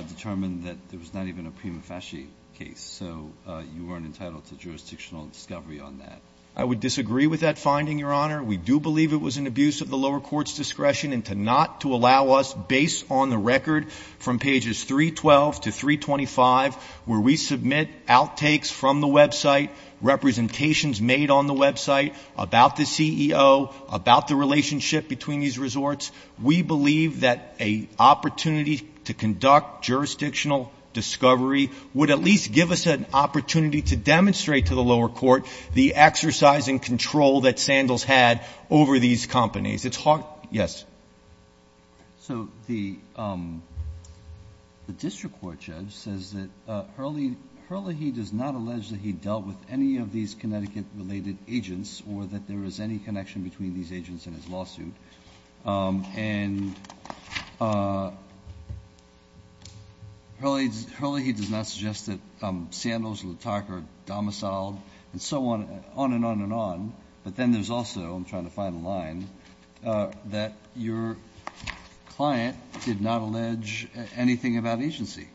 determined that there was not even a prima facie case, so you weren't entitled to jurisdictional discovery on that. I would disagree with that finding, Your Honor. We do believe it was an abuse of the lower court's discretion and to not to allow us, based on the record from pages 312 to 325, where we submit outtakes from the website, representations made on the website about the CEO, about the relationship between these resorts. We believe that an opportunity to conduct jurisdictional discovery would at least give us an opportunity to demonstrate to the lower court the exercise and control that Sandals had over these companies. It's hard — yes? So, the district court judge says that Hurley — Hurley, he does not allege that he dealt with any of these Connecticut-related agents or that there is any connection between these agents in his lawsuit. And Hurley — Hurley, he does not suggest that Sandals, LaTarka, Domiciled, and so on, on and on and on. But then there's also — I'm trying to find a line — that your client did not allege anything about agency.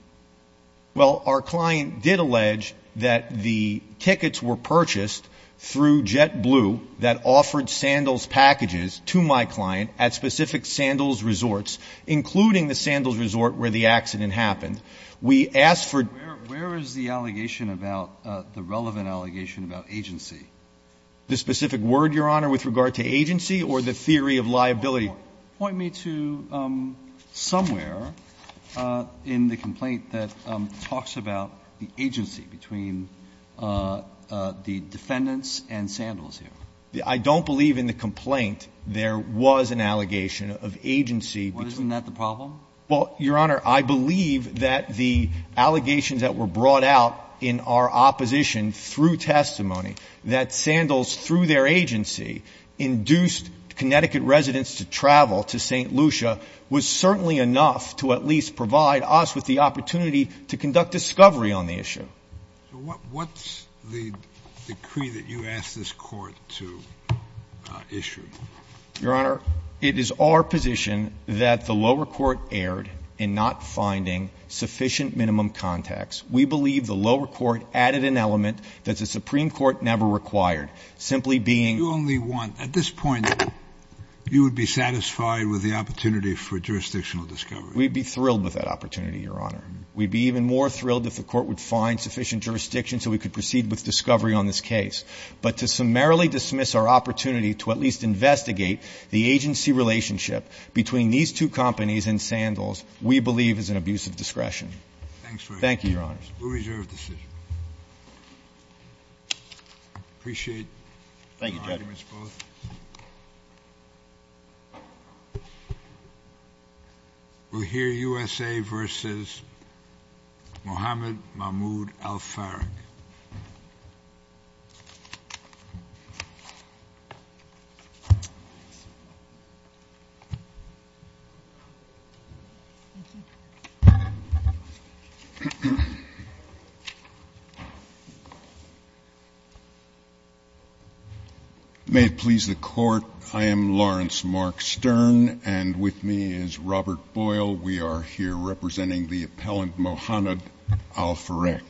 Well, our client did allege that the tickets were purchased through JetBlue that offered Sandals packages to my client at specific Sandals resorts, including the Sandals resort where the accident happened. We asked for — Where is the allegation about — the relevant allegation about agency? The specific word, Your Honor, with regard to agency or the theory of liability? Point me to somewhere in the complaint that talks about the agency between the defendants and Sandals here. I don't believe in the complaint there was an allegation of agency between — Isn't that the problem? Well, Your Honor, I believe that the allegations that were brought out in our opposition through testimony that Sandals, through their agency, induced Connecticut residents to travel to St. Lucia was certainly enough to at least provide us with the opportunity to conduct discovery on the issue. So what's the decree that you asked this Court to issue? Your Honor, it is our position that the lower court erred in not finding sufficient minimum contacts. We believe the lower court added an element that the Supreme Court never required, simply being — You only want — at this point, you would be satisfied with the opportunity for jurisdictional discovery. We'd be thrilled with that opportunity, Your Honor. We'd be even more thrilled if the court would find sufficient jurisdiction so we could proceed with discovery on this case. But to summarily dismiss our opportunity to at least investigate the agency relationship between these two companies and Sandals, we believe is an abuse of discretion. Thanks very much. Thank you, Your Honor. We'll reserve the decision. Appreciate your arguments, both. Thank you, Judge. We'll hear USA v. Mohamed Mahmoud Al-Farrakh. May it please the Court, I am Lawrence Mark Stern, and with me is Robert Boyle. We are here representing the appellant Mohamed Al-Farrakh.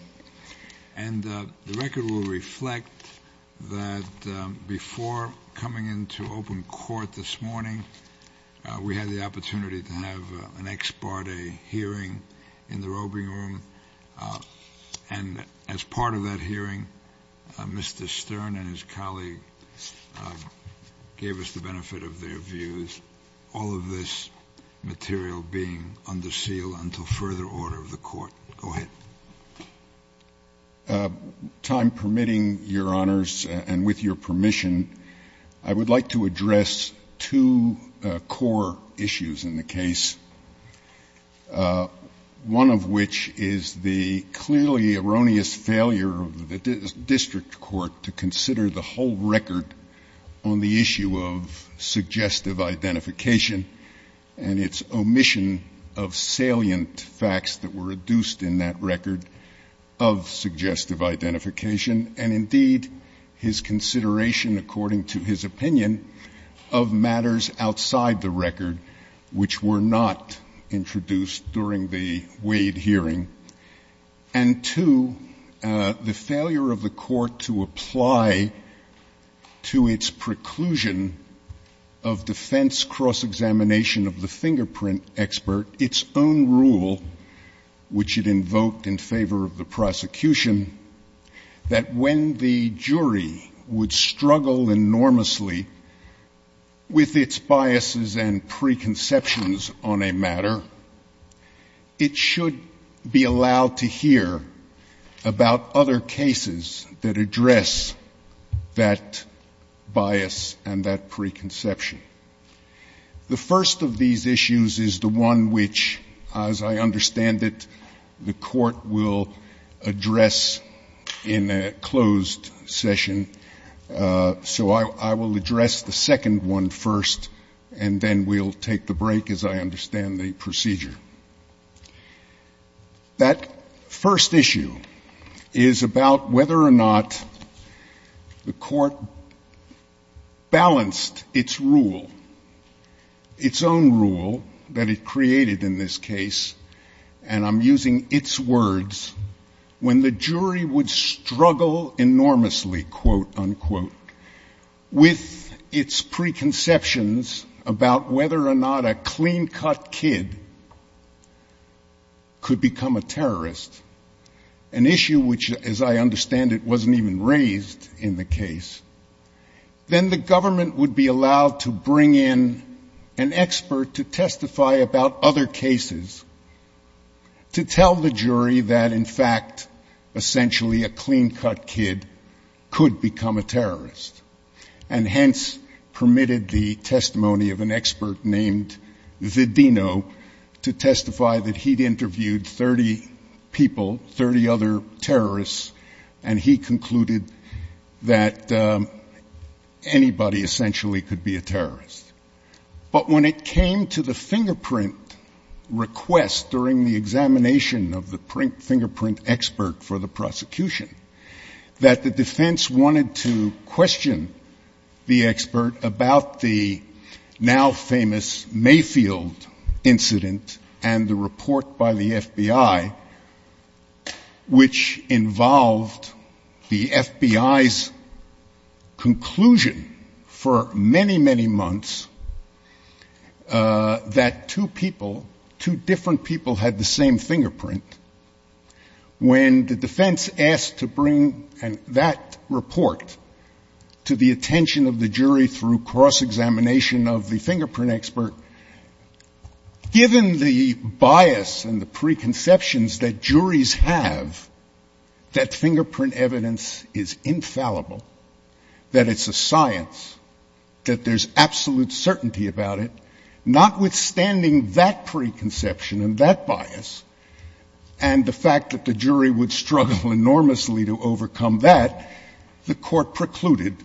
And the record will reflect that before coming into open court this morning, we had the opportunity to have an ex parte hearing in the roving room. And as part of that hearing, Mr. Stern and his colleague gave us the benefit of their views, all of this material being under seal until further order of the court. Go ahead. With time permitting, Your Honors, and with your permission, I would like to address two core issues in the case, one of which is the clearly erroneous failure of the district court to consider the whole record on the issue of suggestive identification and its omission of salient facts that were reduced in that record of suggestive identification and, indeed, his consideration, according to his opinion, of matters outside the record which were not introduced during the Wade hearing, and two, the failure of the court to apply to its preclusion of defense cross-examination of the fingerprint expert, its own rule which it invoked in favor of the prosecution, that when the jury would struggle enormously with its biases and preconceptions on a matter, it should be allowed to hear about other cases that address that bias and that preconception. The first of these issues is the one which, as I understand it, the court will address in a closed session, so I will address the second one first and then we'll take the break as I understand the procedure. That first issue is about whether or not the court balanced its rule, its own rule that it created in this case, and I'm using its words, when the jury would struggle enormously, quote, unquote, with its preconceptions about whether or not a clean-cut kid could become a terrorist, an issue which, as I understand it, wasn't even raised in the case, then the government would be allowed to bring in an expert to testify about other cases, to tell the jury that, in fact, essentially a clean-cut kid could become a terrorist, and hence permitted the testimony of an expert named Vidino to testify that he'd interviewed 30 people, 30 other terrorists, and he concluded that anybody essentially could be a terrorist. But when it came to the fingerprint request during the examination of the fingerprint expert for the prosecution, that the defense wanted to question the expert about the now-famous Mayfield incident and the report by the FBI, which involved the FBI's conclusion for many, many months that two people, two different people had the same fingerprint, when the defense asked to bring that report to the attention of the jury through cross-examination of the fingerprint expert, given the bias and the preconceptions that juries have that fingerprint evidence is infallible, that it's a science, that there's absolute certainty about it, notwithstanding that preconception and that bias, and the fact that the jury would struggle enormously to overcome that, the court precluded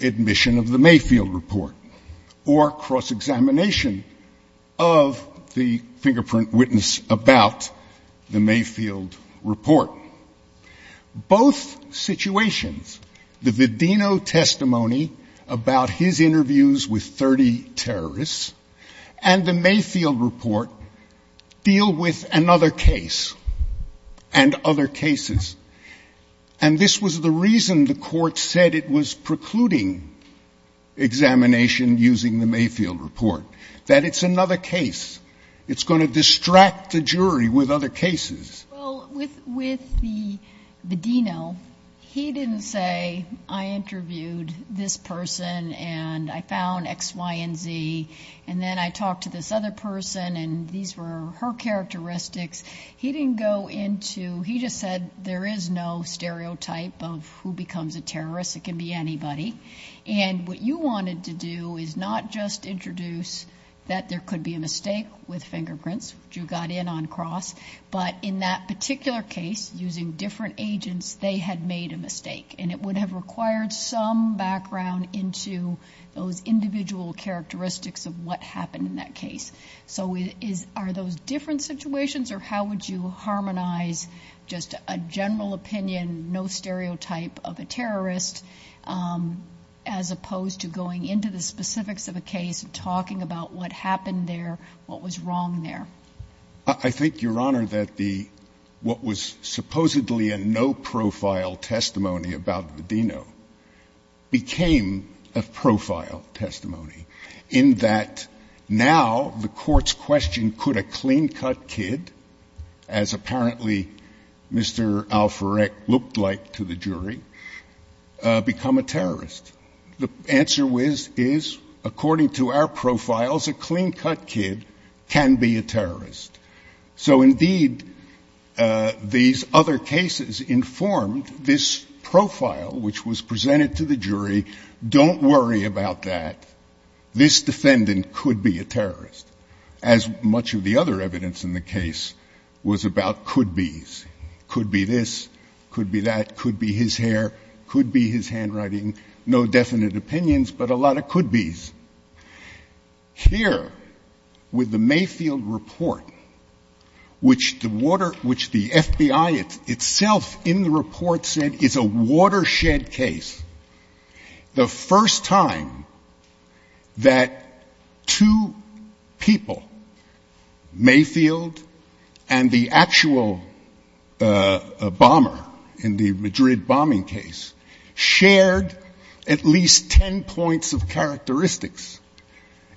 admission of the Mayfield report or cross-examination of the fingerprint witness about the Mayfield report. Both situations, the Vidino testimony about his interviews with 30 terrorists and the Mayfield report deal with another case and other cases, and this was the reason the court said it was precluding examination using the Mayfield report, that it's another case. It's going to distract the jury with other cases. Well, with the Vidino, he didn't say, I interviewed this person and I found X, Y, and Z, and then I talked to this other person and these were her characteristics. He didn't go into, he just said there is no stereotype of who becomes a terrorist, it can be anybody, and what you wanted to do is not just introduce that there could be a mistake with fingerprints, which you got in on cross, but in that particular case, using different agents, they had made a mistake, and it would have required some background into those individual characteristics of what happened in that case. So are those different situations, or how would you harmonize just a general opinion, no stereotype of a terrorist, as opposed to going into the specifics of a case and talking about what happened there, what was wrong there? I think, Your Honor, that what was supposedly a no-profile testimony about the Vidino became a profile testimony, in that now the court's question, could a clean-cut kid, as apparently Mr. Alferec looked like to the jury, become a terrorist? The answer is, according to our profiles, a clean-cut kid can be a terrorist. So indeed, these other cases informed this profile, which was presented to the jury, don't worry about that, this defendant could be a terrorist. As much of the other evidence in the case was about could-bes, could be this, could be that, could be his hair, could be his handwriting, no definite opinions, but a lot of could-bes. Here, with the Mayfield report, which the FBI itself in the report said is a watershed case, the first time that two people, Mayfield and the actual bomber in the Madrid bombing case, shared at least ten points of characteristics.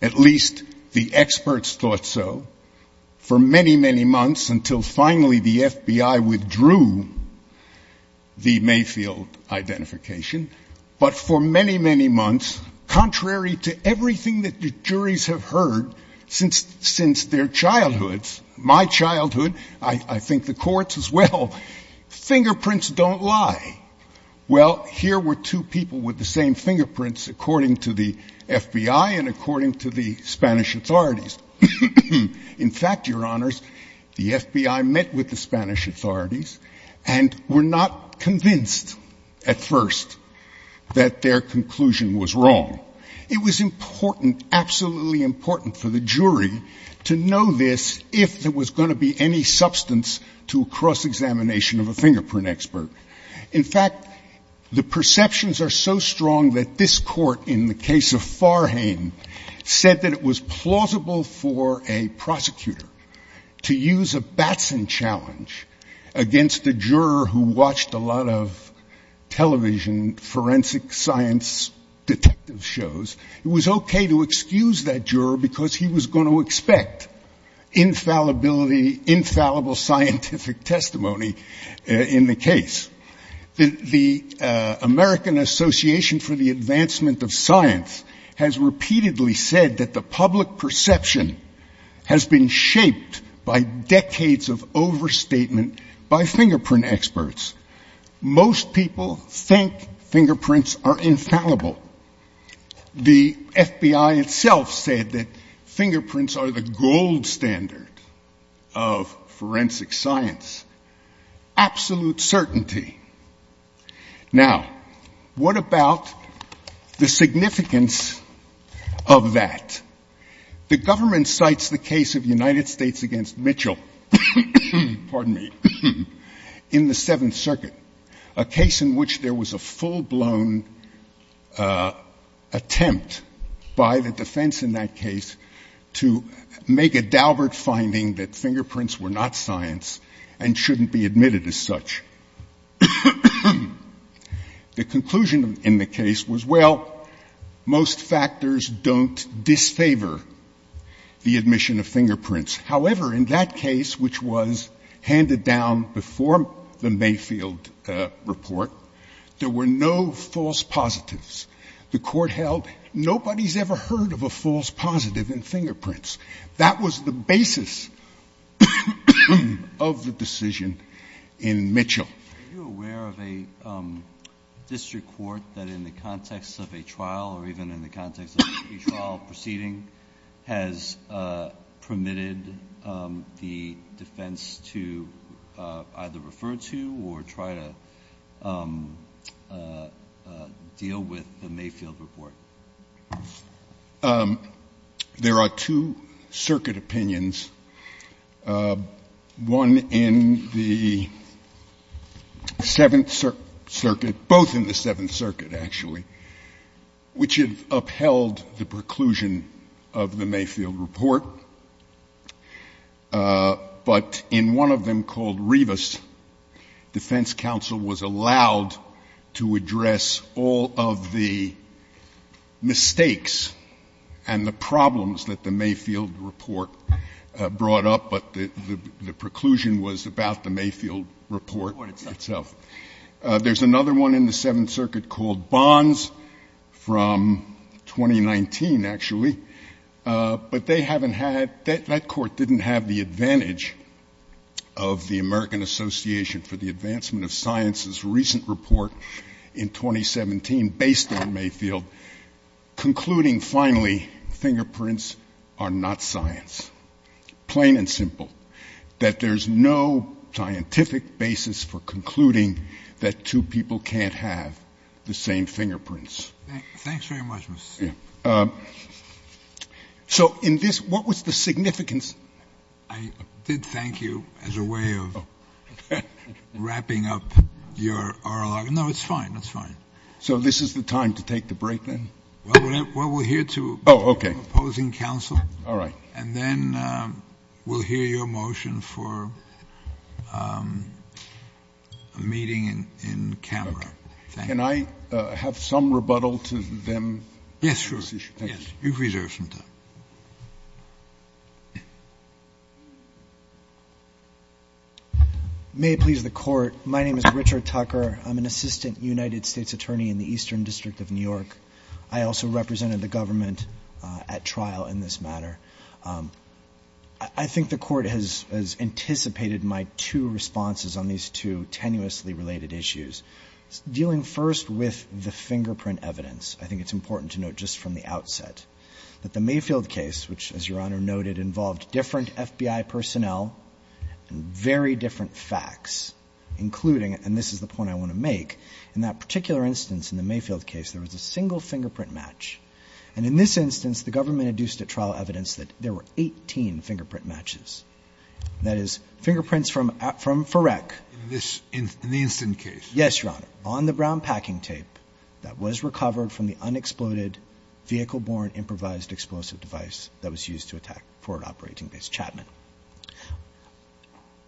At least the experts thought so, for many, many months, until finally the FBI withdrew the Mayfield identification, but for many, many months, contrary to everything that the juries have heard since their childhoods, my childhood, I think the court's as well, fingerprints don't lie. Well, here were two people with the same fingerprints, according to the FBI and according to the Spanish authorities. In fact, your honors, the FBI met with the Spanish authorities and were not convinced at first that their conclusion was wrong. It was important, absolutely important for the jury to know this, if there was going to be any substance to a cross-examination of a fingerprint expert. In fact, the perceptions are so strong that this court, in the case of Farhane, said that it was plausible for a prosecutor to use a Batson challenge against a juror who watched a lot of television, forensic science detective shows, it was okay to excuse that juror because he was going to expect infallibility, infallible scientific testimony in the case. The American Association for the Advancement of Science has repeatedly said that the public perception has been shaped by decades of overstatement by fingerprint experts. Most people think fingerprints are infallible. The FBI itself said that fingerprints are the gold standard of forensic science. Absolute certainty. Now, what about the significance of that? The government cites the case of United States against Mitchell, pardon me, in the Seventh Circuit, a case in which there was a full-blown investigation of the attempt by the defense in that case to make a Daubert finding that fingerprints were not science and shouldn't be admitted as such. The conclusion in the case was, well, most factors don't disfavor the admission of fingerprints. However, in that case, which was handed down before the Mayfield report, there were no false positives. The court held nobody's ever heard of a false positive in fingerprints. That was the basis of the decision in Mitchell. Are you aware of a district court that in the context of a trial, or even in the context of a trial proceeding, has permitted the defense to either refer to or try to disqualify the defendant? How does that deal with the Mayfield report? There are two circuit opinions, one in the Seventh Circuit, both in the Seventh Circuit, actually, which have upheld the preclusion of the Mayfield report. But in one of them called Rivas, defense counsel was allowed to address all of the mistakes and the problems that the Mayfield report brought up, but the preclusion was about the Mayfield report itself. There's another one in the Seventh Circuit called Bonds from 2019, actually. But they haven't had, that court didn't have the advantage of the American Association for the Advancement of Human Rights in Mayfield, concluding, finally, fingerprints are not science. Plain and simple. That there's no scientific basis for concluding that two people can't have the same fingerprints. Thanks very much, Mr. Smith. So in this, what was the significance? I did thank you as a way of wrapping up your oral argument. No, it's fine, it's fine. So this is the time to take the break, then? Well, we'll hear to opposing counsel, and then we'll hear your motion for a meeting in camera. Can I have some rebuttal to them on this issue? Yes, sure. May it please the court. My name is Richard Tucker. I'm an assistant United States attorney in the Eastern District of New York. I also represented the government at trial in this matter. I think the court has anticipated my two responses on these two tenuously related issues. Dealing first with the fingerprint evidence, I think it's important to note just from the outset that the Mayfield case, which, as Your Honor noted, involved different FBI personnel and very different facts, including, and this is the point I want to make, in that particular instance in the Mayfield case, there was a single fingerprint match. And in this instance, the government induced at trial evidence that there were 18 fingerprint matches. That is, fingerprints from FIREC. In the incident case? Yes, Your Honor. On the brown packing tape that was recovered from the unexploded vehicle-borne improvised explosive device that was used to attack Forward Operating Base Chapman.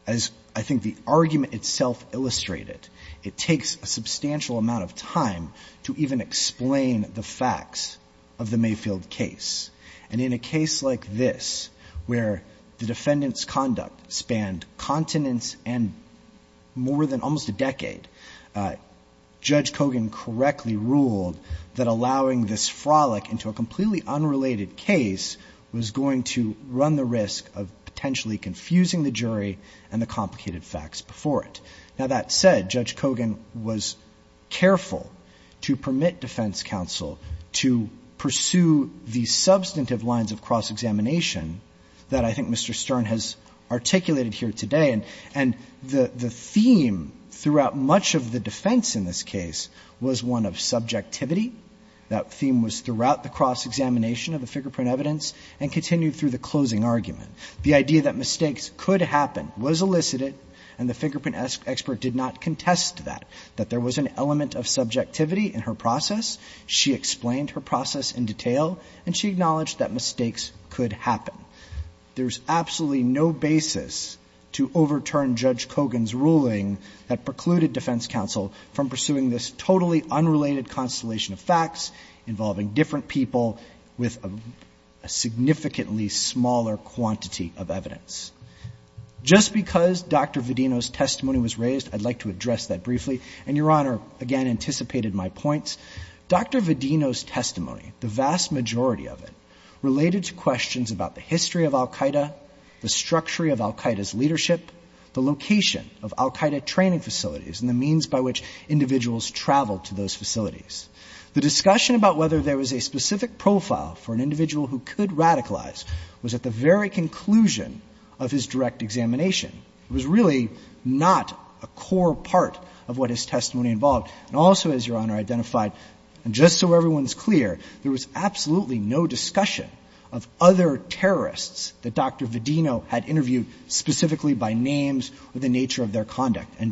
As I think the argument itself illustrated, it takes a substantial amount of time to even explain the facts of the Mayfield case. And in a case like this, where the defendant's conduct spanned continents and more than almost a decade, Judge Kogan correctly ruled that allowing this frolic into a completely unrelated case was going to run the risk of potentially confusing the jury and the complicated facts before it. Now, that said, Judge Kogan was careful to permit defense counsel to pursue the subject matter of the case. And there were substantive lines of cross-examination that I think Mr. Stern has articulated here today. And the theme throughout much of the defense in this case was one of subjectivity. That theme was throughout the cross-examination of the fingerprint evidence and continued through the closing argument. The idea that mistakes could happen was elicited, and the fingerprint expert did not contest that, that there was an element of subjectivity in her process. She explained her process in detail, and she acknowledged that mistakes could happen. There's absolutely no basis to overturn Judge Kogan's ruling that precluded defense counsel from pursuing this totally unrelated constellation of facts, involving different people with a significantly smaller quantity of evidence. Just because Dr. Vedino's testimony was raised, I'd like to address that briefly. And Your Honor, again, anticipated my points, Dr. Vedino's testimony, the vast majority of it, related to questions about the history of Al-Qaeda, the structure of Al-Qaeda's leadership, the location of Al-Qaeda training facilities and the means by which individuals traveled to those facilities. The discussion about whether there was a specific profile for an individual who could radicalize was at the very conclusion of his direct examination. It was really not a core part of what his testimony involved. And also, as Your Honor identified, and just so everyone's clear, there was absolutely no discussion of other terrorists that Dr. Vedino had interviewed, specifically by names or the nature of their conduct.